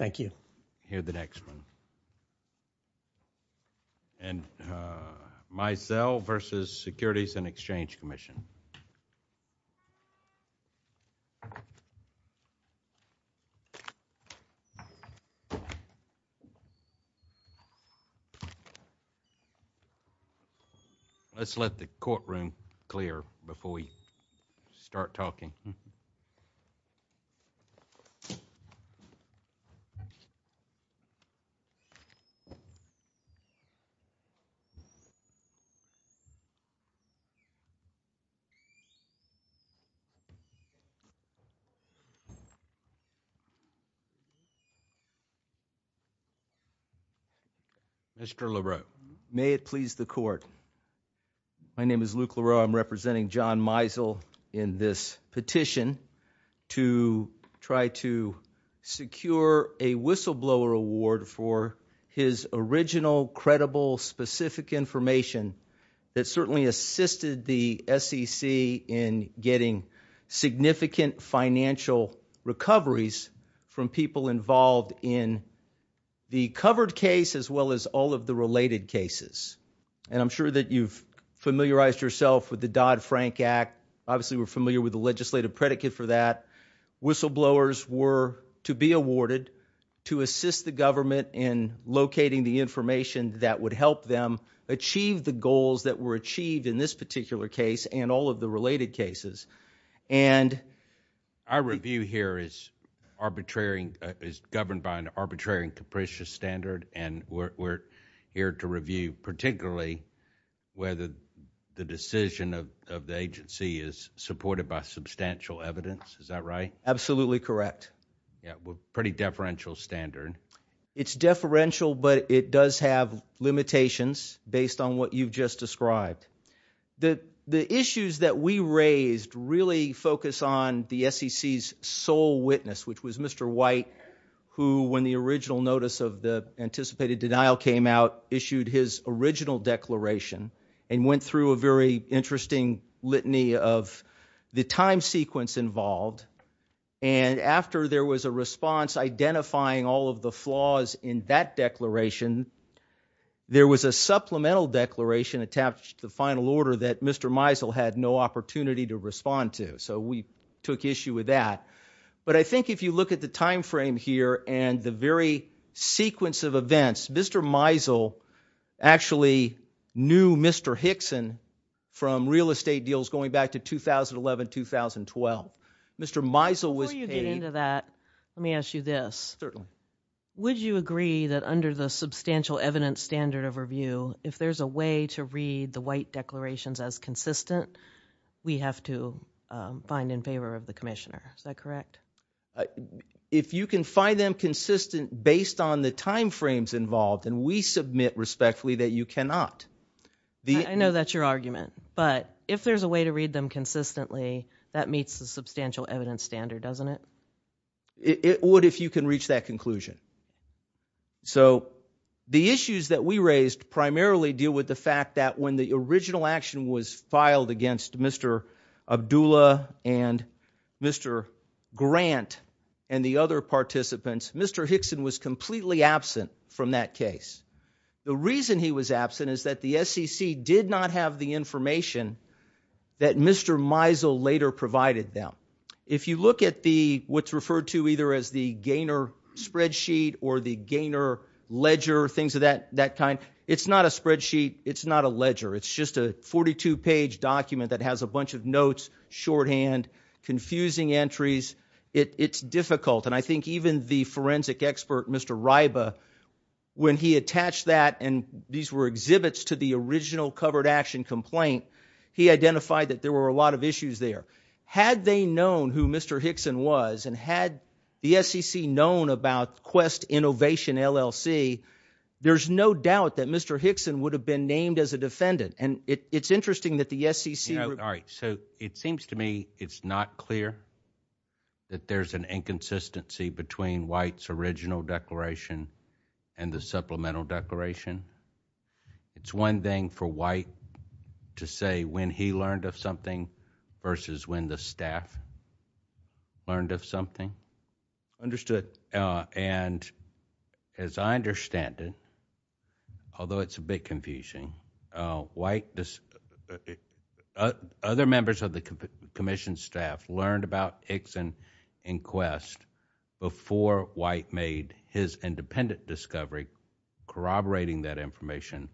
I hear the next one. And Meisel v. Securities and Exchange Commission. Let's let the courtroom clear before we start talking. Mr. LeRoux, may it please the court. My name is Luke LeRoux. I'm representing John Meisel in this petition to try to secure a whistleblower award for his original, credible, specific information that certainly assisted the SEC in getting significant financial recoveries from people involved in the covered case as well as all of the related cases. And I'm sure that you've familiarized yourself with the Dodd-Frank Act. Obviously, we're familiar with the legislative predicate for that. Whistleblowers were to be awarded to assist the government in locating the information that would help them achieve the goals that were achieved in this particular case and all of the related cases. Our review here is governed by an arbitrary and capricious standard, and we're here to review particularly whether the decision of the agency is supported by substantial evidence. Is that right? Absolutely correct. Yeah, pretty deferential standard. It's deferential, but it does have limitations based on what you've just described. The issues that we raised really focus on the SEC's sole witness, which was Mr. White, who, when the original notice of the anticipated denial came out, issued his original declaration and went through a very interesting litany of the time sequence involved. And after there was a response identifying all of the flaws in that declaration, there was a supplemental declaration attached to the final order that Mr. Meisel had no opportunity to respond to. So we took issue with that. But I think if you look at the time frame here and the very sequence of events, Mr. Meisel actually knew Mr. Hickson from real estate deals going back to 2011-2012. Before you get into that, let me ask you this. Certainly. Would you agree that under the substantial evidence standard of review, if there's a way to read the White declarations as consistent, we have to find in favor of the Commissioner? Is that correct? If you can find them consistent based on the time frames involved, then we submit respectfully that you cannot. I know that's your argument, but if there's a way to read them consistently, that meets the substantial evidence standard, doesn't it? It would if you can reach that conclusion. So the issues that we raised primarily deal with the fact that when the original action was filed against Mr. Abdullah and Mr. Grant and the other participants, Mr. Hickson was completely absent from that case. The reason he was absent is that the SEC did not have the information that Mr. Meisel later provided them. If you look at what's referred to either as the Gaynor spreadsheet or the Gaynor ledger, things of that kind, it's not a spreadsheet. It's not a ledger. It's just a 42-page document that has a bunch of notes, shorthand, confusing entries. It's difficult, and I think even the forensic expert, Mr. Ryba, when he attached that and these were exhibits to the original covered action complaint, he identified that there were a lot of issues there. Had they known who Mr. Hickson was and had the SEC known about Quest Innovation LLC, there's no doubt that Mr. Hickson would have been named as a defendant, and it's interesting that the SEC... All right, so it seems to me it's not clear that there's an inconsistency between White's original declaration and the supplemental declaration. It's one thing for White to say when he learned of something versus when the staff learned of something. Understood. As I understand it, although it's a bit confusing, other members of the Commission staff learned about Hickson and Quest before White made his independent discovery, corroborating that information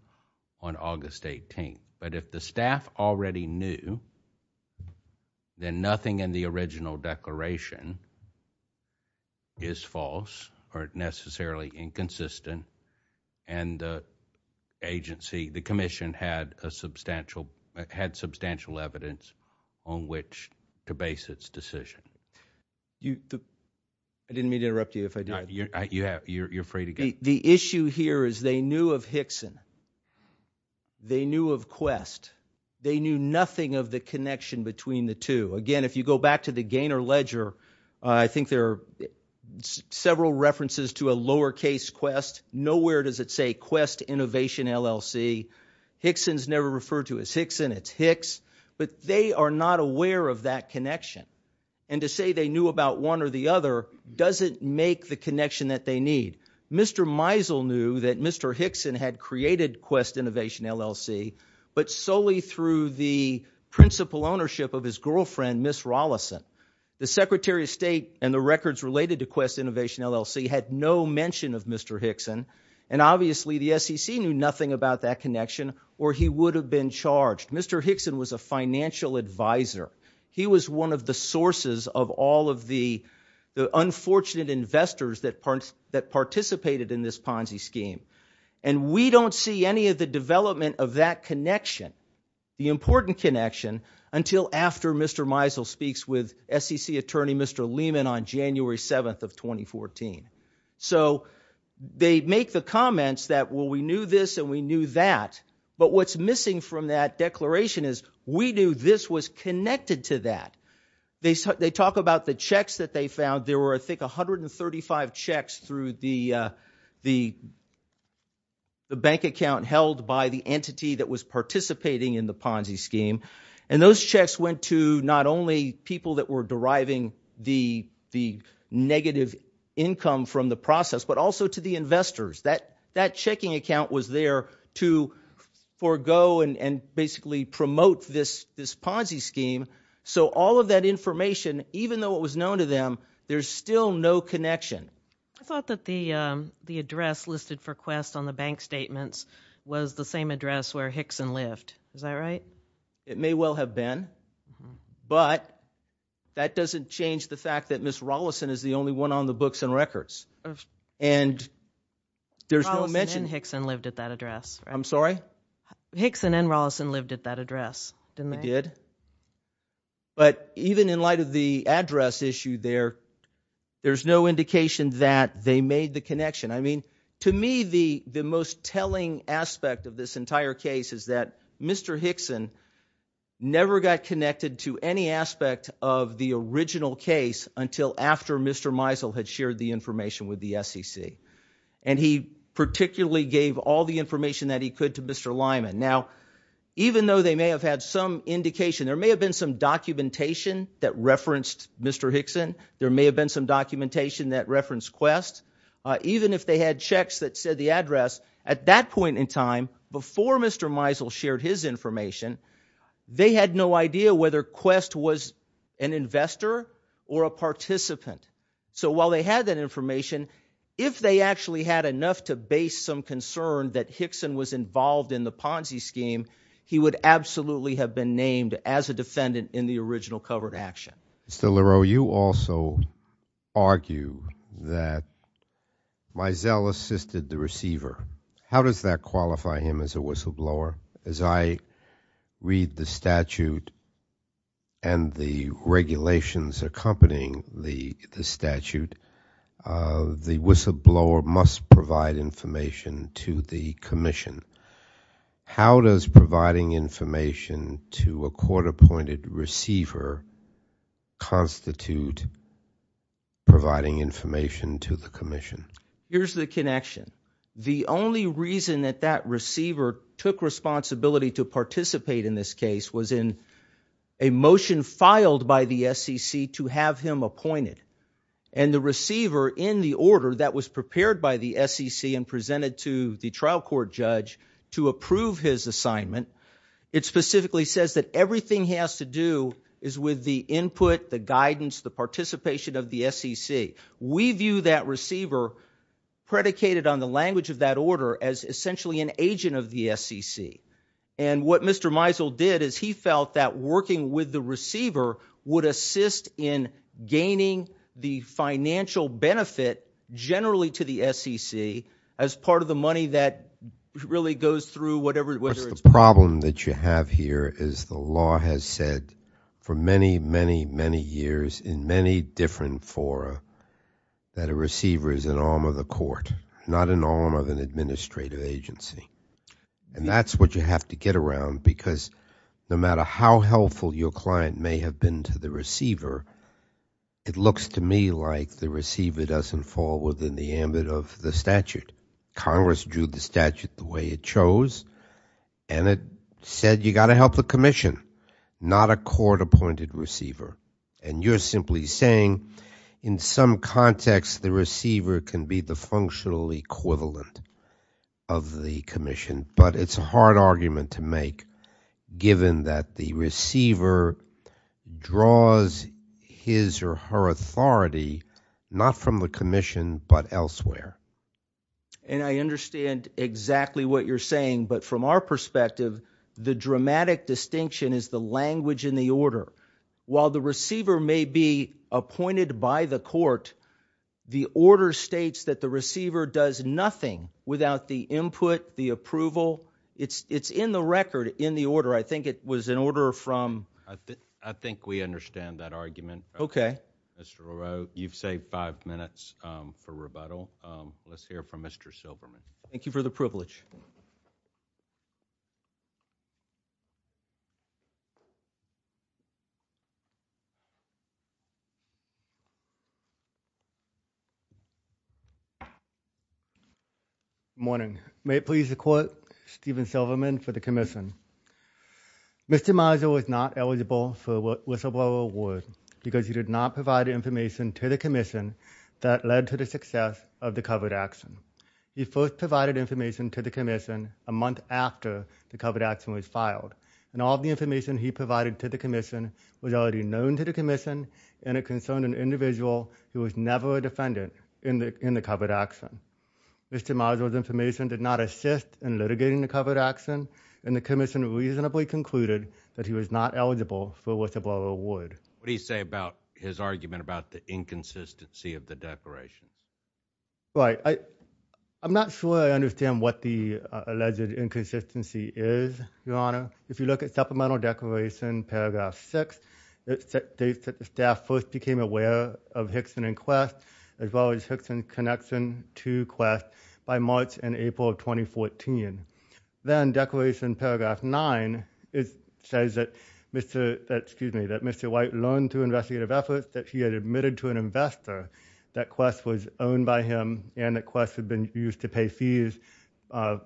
on August 18th. But if the staff already knew, then nothing in the original declaration is false or necessarily inconsistent, and the agency, the Commission, had substantial evidence on which to base its decision. I didn't mean to interrupt you if I did. You're free to go. The issue here is they knew of Hickson. They knew of Quest. They knew nothing of the connection between the two. Again, if you go back to the Gaynor Ledger, I think there are several references to a lowercase Quest. Nowhere does it say Quest Innovation LLC. Hickson's never referred to as Hickson. It's Hicks. But they are not aware of that connection. And to say they knew about one or the other doesn't make the connection that they need. Mr. Meisel knew that Mr. Hickson had created Quest Innovation LLC, but solely through the principal ownership of his girlfriend, Ms. Rollison. The Secretary of State and the records related to Quest Innovation LLC had no mention of Mr. Hickson, and obviously the SEC knew nothing about that connection or he would have been charged. Mr. Hickson was a financial advisor. He was one of the sources of all of the unfortunate investors that participated in this Ponzi scheme. And we don't see any of the development of that connection, the important connection, until after Mr. Meisel speaks with SEC Attorney Mr. Lehman on January 7th of 2014. So they make the comments that, well, we knew this and we knew that. But what's missing from that declaration is we knew this was connected to that. They talk about the checks that they found. There were, I think, 135 checks through the bank account held by the entity that was participating in the Ponzi scheme. And those checks went to not only people that were deriving the negative income from the process, but also to the investors. That checking account was there to forego and basically promote this Ponzi scheme. So all of that information, even though it was known to them, there's still no connection. I thought that the address listed for Quest on the bank statements was the same address where Hickson lived. Is that right? It may well have been. But that doesn't change the fact that Ms. Rolison is the only one on the books and records. And there's no mention. Rolison and Hickson lived at that address, right? I'm sorry? Hickson and Rolison lived at that address, didn't they? They did. But even in light of the address issue there, there's no indication that they made the connection. I mean, to me, the most telling aspect of this entire case is that Mr. Hickson never got connected to any aspect of the original case until after Mr. Meisel had shared the information with the SEC. And he particularly gave all the information that he could to Mr. Lyman. Now, even though they may have had some indication, there may have been some documentation that referenced Mr. Hickson. There may have been some documentation that referenced Quest. Even if they had checks that said the address, at that point in time, before Mr. Meisel shared his information, they had no idea whether Quest was an investor or a participant. So while they had that information, if they actually had enough to base some concern that Hickson was involved in the Ponzi scheme, he would absolutely have been named as a defendant in the original covered action. Mr. Leroux, you also argue that Meisel assisted the receiver. How does that qualify him as a whistleblower? As I read the statute and the regulations accompanying the statute, the whistleblower must provide information to the commission. How does providing information to a court-appointed receiver constitute providing information to the commission? Here's the connection. The only reason that that receiver took responsibility to participate in this case was in a motion filed by the SEC to have him appointed. And the receiver, in the order that was prepared by the SEC and presented to the trial court judge to approve his assignment, it specifically says that everything he has to do is with the input, the guidance, the participation of the SEC. We view that receiver predicated on the language of that order as essentially an agent of the SEC. And what Mr. Meisel did is he felt that working with the receiver would assist in gaining the financial benefit generally to the SEC as part of the money that really goes through whatever it was. The problem that you have here is the law has said for many, many, many years in many different fora that a receiver is an arm of the court, not an arm of an administrative agency. And that's what you have to get around because no matter how helpful your client may have been to the receiver, it looks to me like the receiver doesn't fall within the ambit of the statute. Congress drew the statute the way it chose, and it said you got to help the commission, not a court-appointed receiver. And you're simply saying in some context the receiver can be the functional equivalent of the commission, but it's a hard argument to make given that the receiver draws his or her authority not from the commission but elsewhere. And I understand exactly what you're saying, but from our perspective, the dramatic distinction is the language in the order. While the receiver may be appointed by the court, the order states that the receiver does nothing without the input, the approval. It's in the record in the order. I think it was an order from... I think we understand that argument. Okay. Mr. O'Rourke, you've saved five minutes for rebuttal. Let's hear from Mr. Silberman. Thank you for the privilege. Good morning. May it please the court, Stephen Silberman for the commission. Mr. Miser was not eligible for the whistleblower award because he did not provide information to the commission that led to the success of the covered action. He first provided information to the commission a month after the covered action was filed, and all of the information he provided to the commission was already known to the commission, and it concerned an individual who was never a defendant in the covered action. Mr. Miser's information did not assist in litigating the covered action, and the commission reasonably concluded that he was not eligible for a whistleblower award. What do you say about his argument about the inconsistency of the declaration? Right. I'm not sure I understand what the alleged inconsistency is, Your Honor. If you look at Supplemental Declaration, Paragraph 6, it states that the staff first became aware of Hickson and Quest, as well as Hickson's connection to Quest, by March and April of 2014. Then Declaration Paragraph 9 says that Mr. White learned through investigative efforts that he had admitted to an investor that Quest was owned by him and that Quest had been used to pay fees,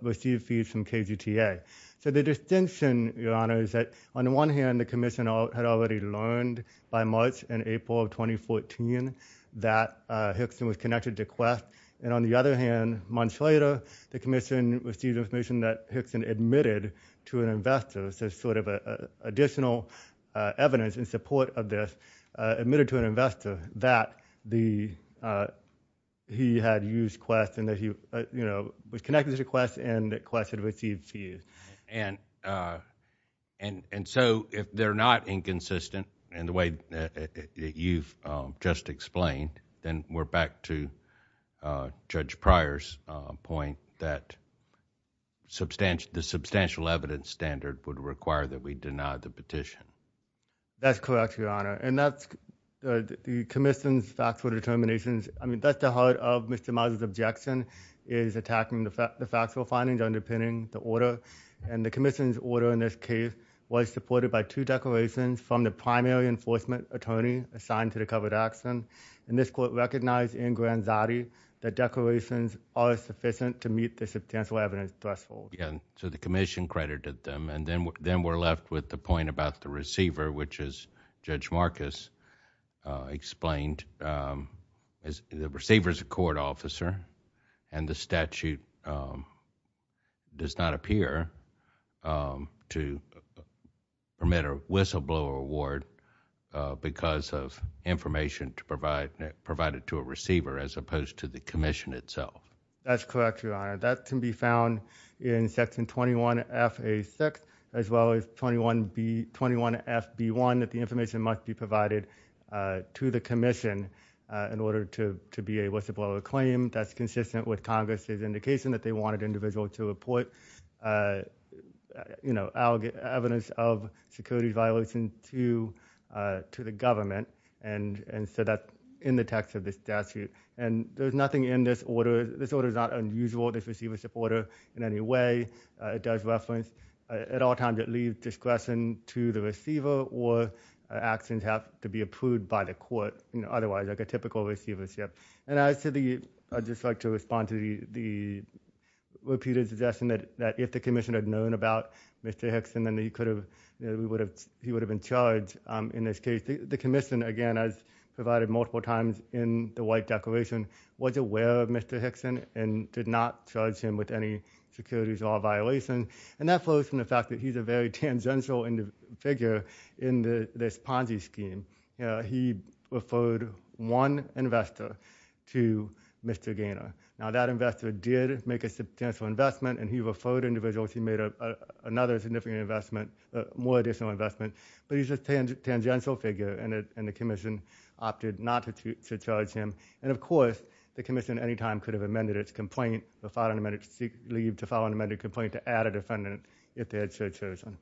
receive fees from KGTA. So the distinction, Your Honor, is that on the one hand, the commission had already learned by March and April of 2014 that Hickson was connected to Quest, and on the other hand, months later, the commission received information that Hickson admitted to an investor. There's sort of additional evidence in support of this, admitted to an investor, that he had used Quest and that he was connected to Quest and that Quest had received fees. If they're not inconsistent in the way that you've just explained, then we're back to Judge Pryor's point that the substantial evidence standard would require that we deny the petition. That's correct, Your Honor, and that's the commission's factual determinations. I mean, that's the heart of Mr. Miles' objection is attacking the factual findings underpinning the order, and the commission's order in this case was supported by two declarations from the primary enforcement attorney assigned to the covered accident, and this court recognized in Granzatti that declarations are sufficient to meet the substantial evidence threshold. Yeah, so the commission credited them, and then we're left with the point about the receiver, which, as Judge Marcus explained, the receiver is a court officer, and the statute does not appear to permit a whistleblower award because of information provided to a receiver as opposed to the commission itself. That's correct, Your Honor. That can be found in Section 21FA6 as well as 21FB1, that the information must be provided to the commission in order to be a whistleblower claim. That's consistent with Congress's indication that they wanted individuals to report evidence of security violations to the government, and so that's in the text of this statute, and there's nothing in this order. This order is not unusual, this receiver-supporter in any way. It does reference at all times it leaves discretion to the receiver, or actions have to be approved by the court otherwise, like a typical receivership. And I'd just like to respond to the repeated suggestion that if the commission had known about Mr. Hickson, then he would have been charged in this case. The commission, again, as provided multiple times in the White Declaration, was aware of Mr. Hickson and did not charge him with any securities law violations, and that flows from the fact that he's a very tangential figure in this Ponzi scheme. He referred one investor to Mr. Gaynor. Now, that investor did make a substantial investment, and he referred individuals. He made another significant investment, more additional investment. But he's a tangential figure, and the commission opted not to charge him. And, of course, the commission at any time could have amended its complaint, or filed an amended complaint to add a defendant if they had so chosen.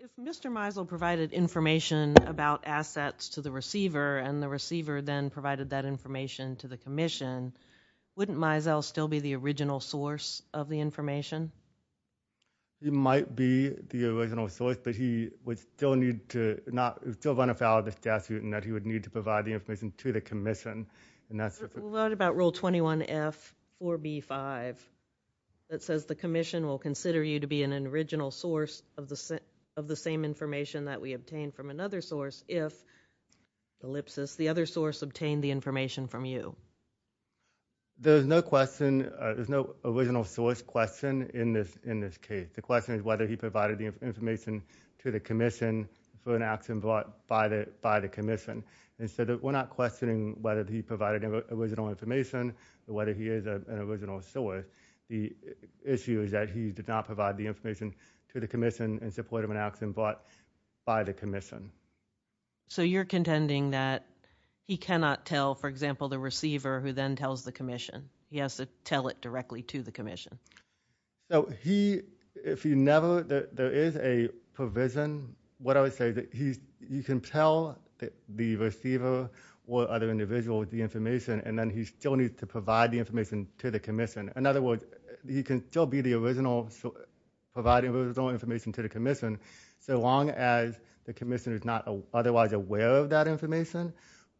If Mr. Mizell provided information about assets to the receiver, and the receiver then provided that information to the commission, wouldn't Mizell still be the original source of the information? He might be the original source, but he would still run afoul of this statute and that he would need to provide the information to the commission. What about Rule 21F4B5 that says the commission will consider you to be an original source of the same information that we obtained from another source if the other source obtained the information from you? There's no original source question in this case. The question is whether he provided the information to the commission for an action brought by the commission. We're not questioning whether he provided original information or whether he is an original source. The issue is that he did not provide the information to the commission in support of an action brought by the commission. So you're contending that he cannot tell, for example, the receiver who then tells the commission. He has to tell it directly to the commission. If there is a provision, you can tell the receiver or other individual the information and then he still needs to provide the information to the commission. In other words, he can still be the original source providing original information to the commission so long as the commission is not otherwise aware of that information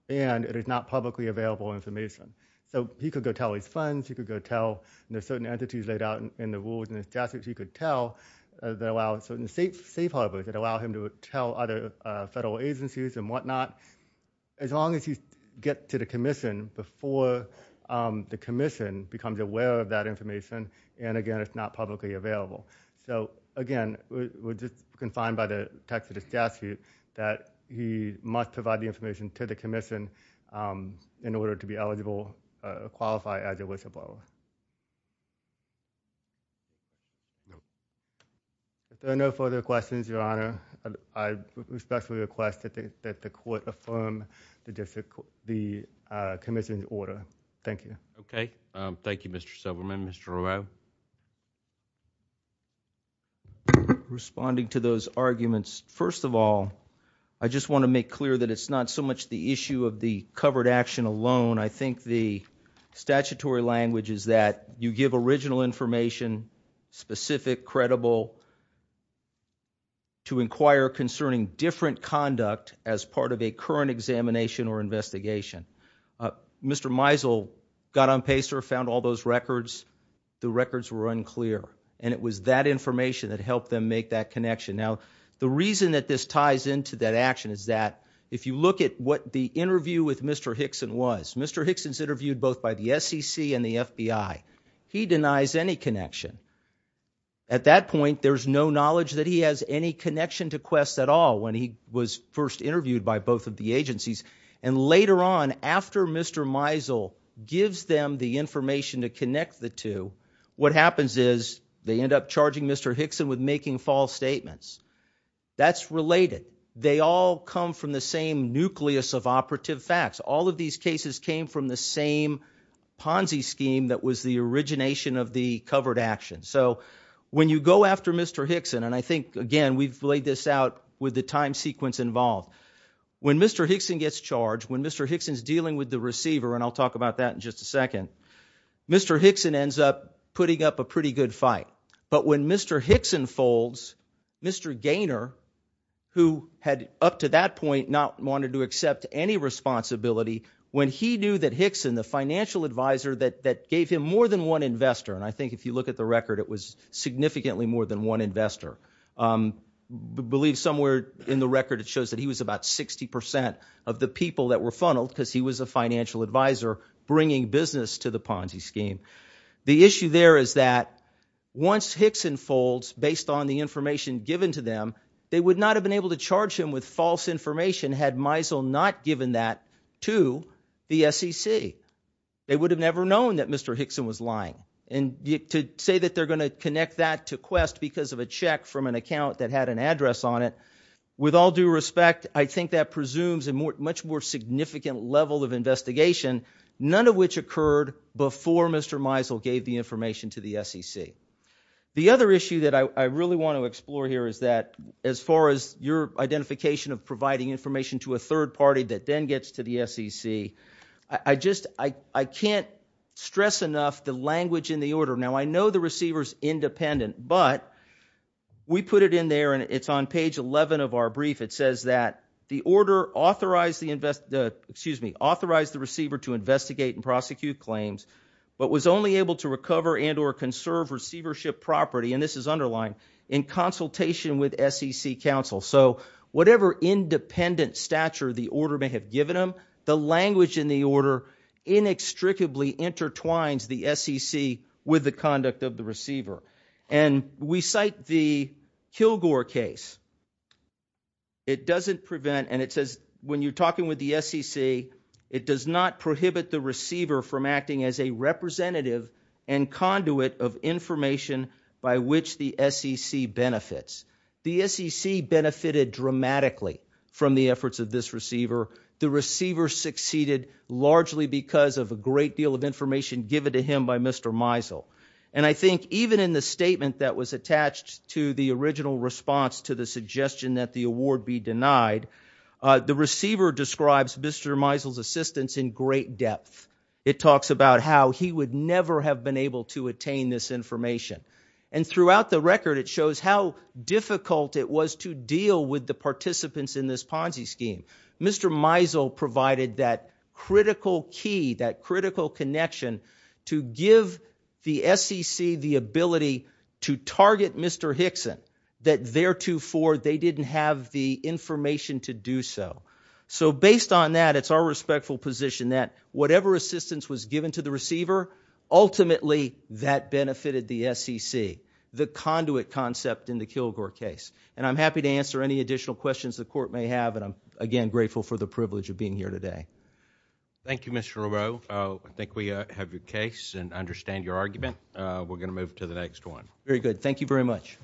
and it is not publicly available information. So he could go tell his friends. He could go tell certain entities laid out in the rules and statutes. He could tell certain safe harbors that allow him to tell other federal agencies and whatnot as long as he gets to the commission before the commission becomes aware of that information and, again, it's not publicly available. Again, we're just confined by the text of the statute that he must provide the information to the commission in order to be eligible or qualify as a whistleblower. If there are no further questions, Your Honor, I respectfully request that the court affirm the commission's order. Thank you. Okay. Thank you, Mr. Silverman. Mr. Rowell? Responding to those arguments, first of all, I just want to make clear that it's not so much the issue of the covered action alone. I think the statutory language is that you give original information, specific, credible, to inquire concerning different conduct as part of a current examination or investigation. Mr. Meisel got on PACER, found all those records. The records were unclear, and it was that information that helped them make that connection. Now, the reason that this ties into that action is that if you look at what the interview with Mr. Hickson was, Mr. Hickson's interviewed both by the SEC and the FBI. He denies any connection. At that point, there's no knowledge that he has any connection to Quest at all when he was first interviewed by both of the agencies, and later on, after Mr. Meisel gives them the information to connect the two, what happens is they end up charging Mr. Hickson with making false statements. That's related. They all come from the same nucleus of operative facts. All of these cases came from the same Ponzi scheme that was the origination of the covered action. So when you go after Mr. Hickson, and I think, again, we've laid this out with the time sequence involved, when Mr. Hickson gets charged, when Mr. Hickson's dealing with the receiver, and I'll talk about that in just a second, Mr. Hickson ends up putting up a pretty good fight. But when Mr. Hickson folds, Mr. Gaynor, who had up to that point not wanted to accept any responsibility, when he knew that Hickson, the financial advisor that gave him more than one investor, and I think if you look at the record, it was significantly more than one investor. I believe somewhere in the record it shows that he was about 60% of the people that were funneled because he was a financial advisor bringing business to the Ponzi scheme. The issue there is that once Hickson folds, based on the information given to them, they would not have been able to charge him with false information had Miesel not given that to the SEC. They would have never known that Mr. Hickson was lying. And to say that they're going to connect that to Quest because of a check from an account that had an address on it, with all due respect, I think that presumes a much more significant level of investigation, none of which occurred before Mr. Miesel gave the information to the SEC. The other issue that I really want to explore here is that as far as your identification of providing information to a third party that then gets to the SEC, I can't stress enough the language in the order. Now, I know the receiver's independent, but we put it in there, and it's on page 11 of our brief. It says that the order authorized the receiver to investigate and prosecute claims but was only able to recover and or conserve receivership property, and this is underlined, in consultation with SEC counsel. So whatever independent stature the order may have given him, the language in the order inextricably intertwines the SEC with the conduct of the receiver. And we cite the Kilgore case. It doesn't prevent, and it says when you're talking with the SEC, it does not prohibit the receiver from acting as a representative and conduit of information by which the SEC benefits. The SEC benefited dramatically from the efforts of this receiver. The receiver succeeded largely because of a great deal of information given to him by Mr. Miesel. And I think even in the statement that was attached to the original response to the suggestion that the award be denied, the receiver describes Mr. Miesel's assistance in great depth. It talks about how he would never have been able to attain this information. And throughout the record, it shows how difficult it was to deal with the participants in this Ponzi scheme. Mr. Miesel provided that critical key, that critical connection, to give the SEC the ability to target Mr. Hickson, that theretofore they didn't have the information to do so. So based on that, it's our respectful position that whatever assistance was given to the receiver, ultimately that benefited the SEC, the conduit concept in the Kilgore case. And I'm happy to answer any additional questions the court may have, and I'm, again, grateful for the privilege of being here today. Thank you, Mr. Rowe. I think we have your case and understand your argument. We're going to move to the next one. Very good. Thank you very much.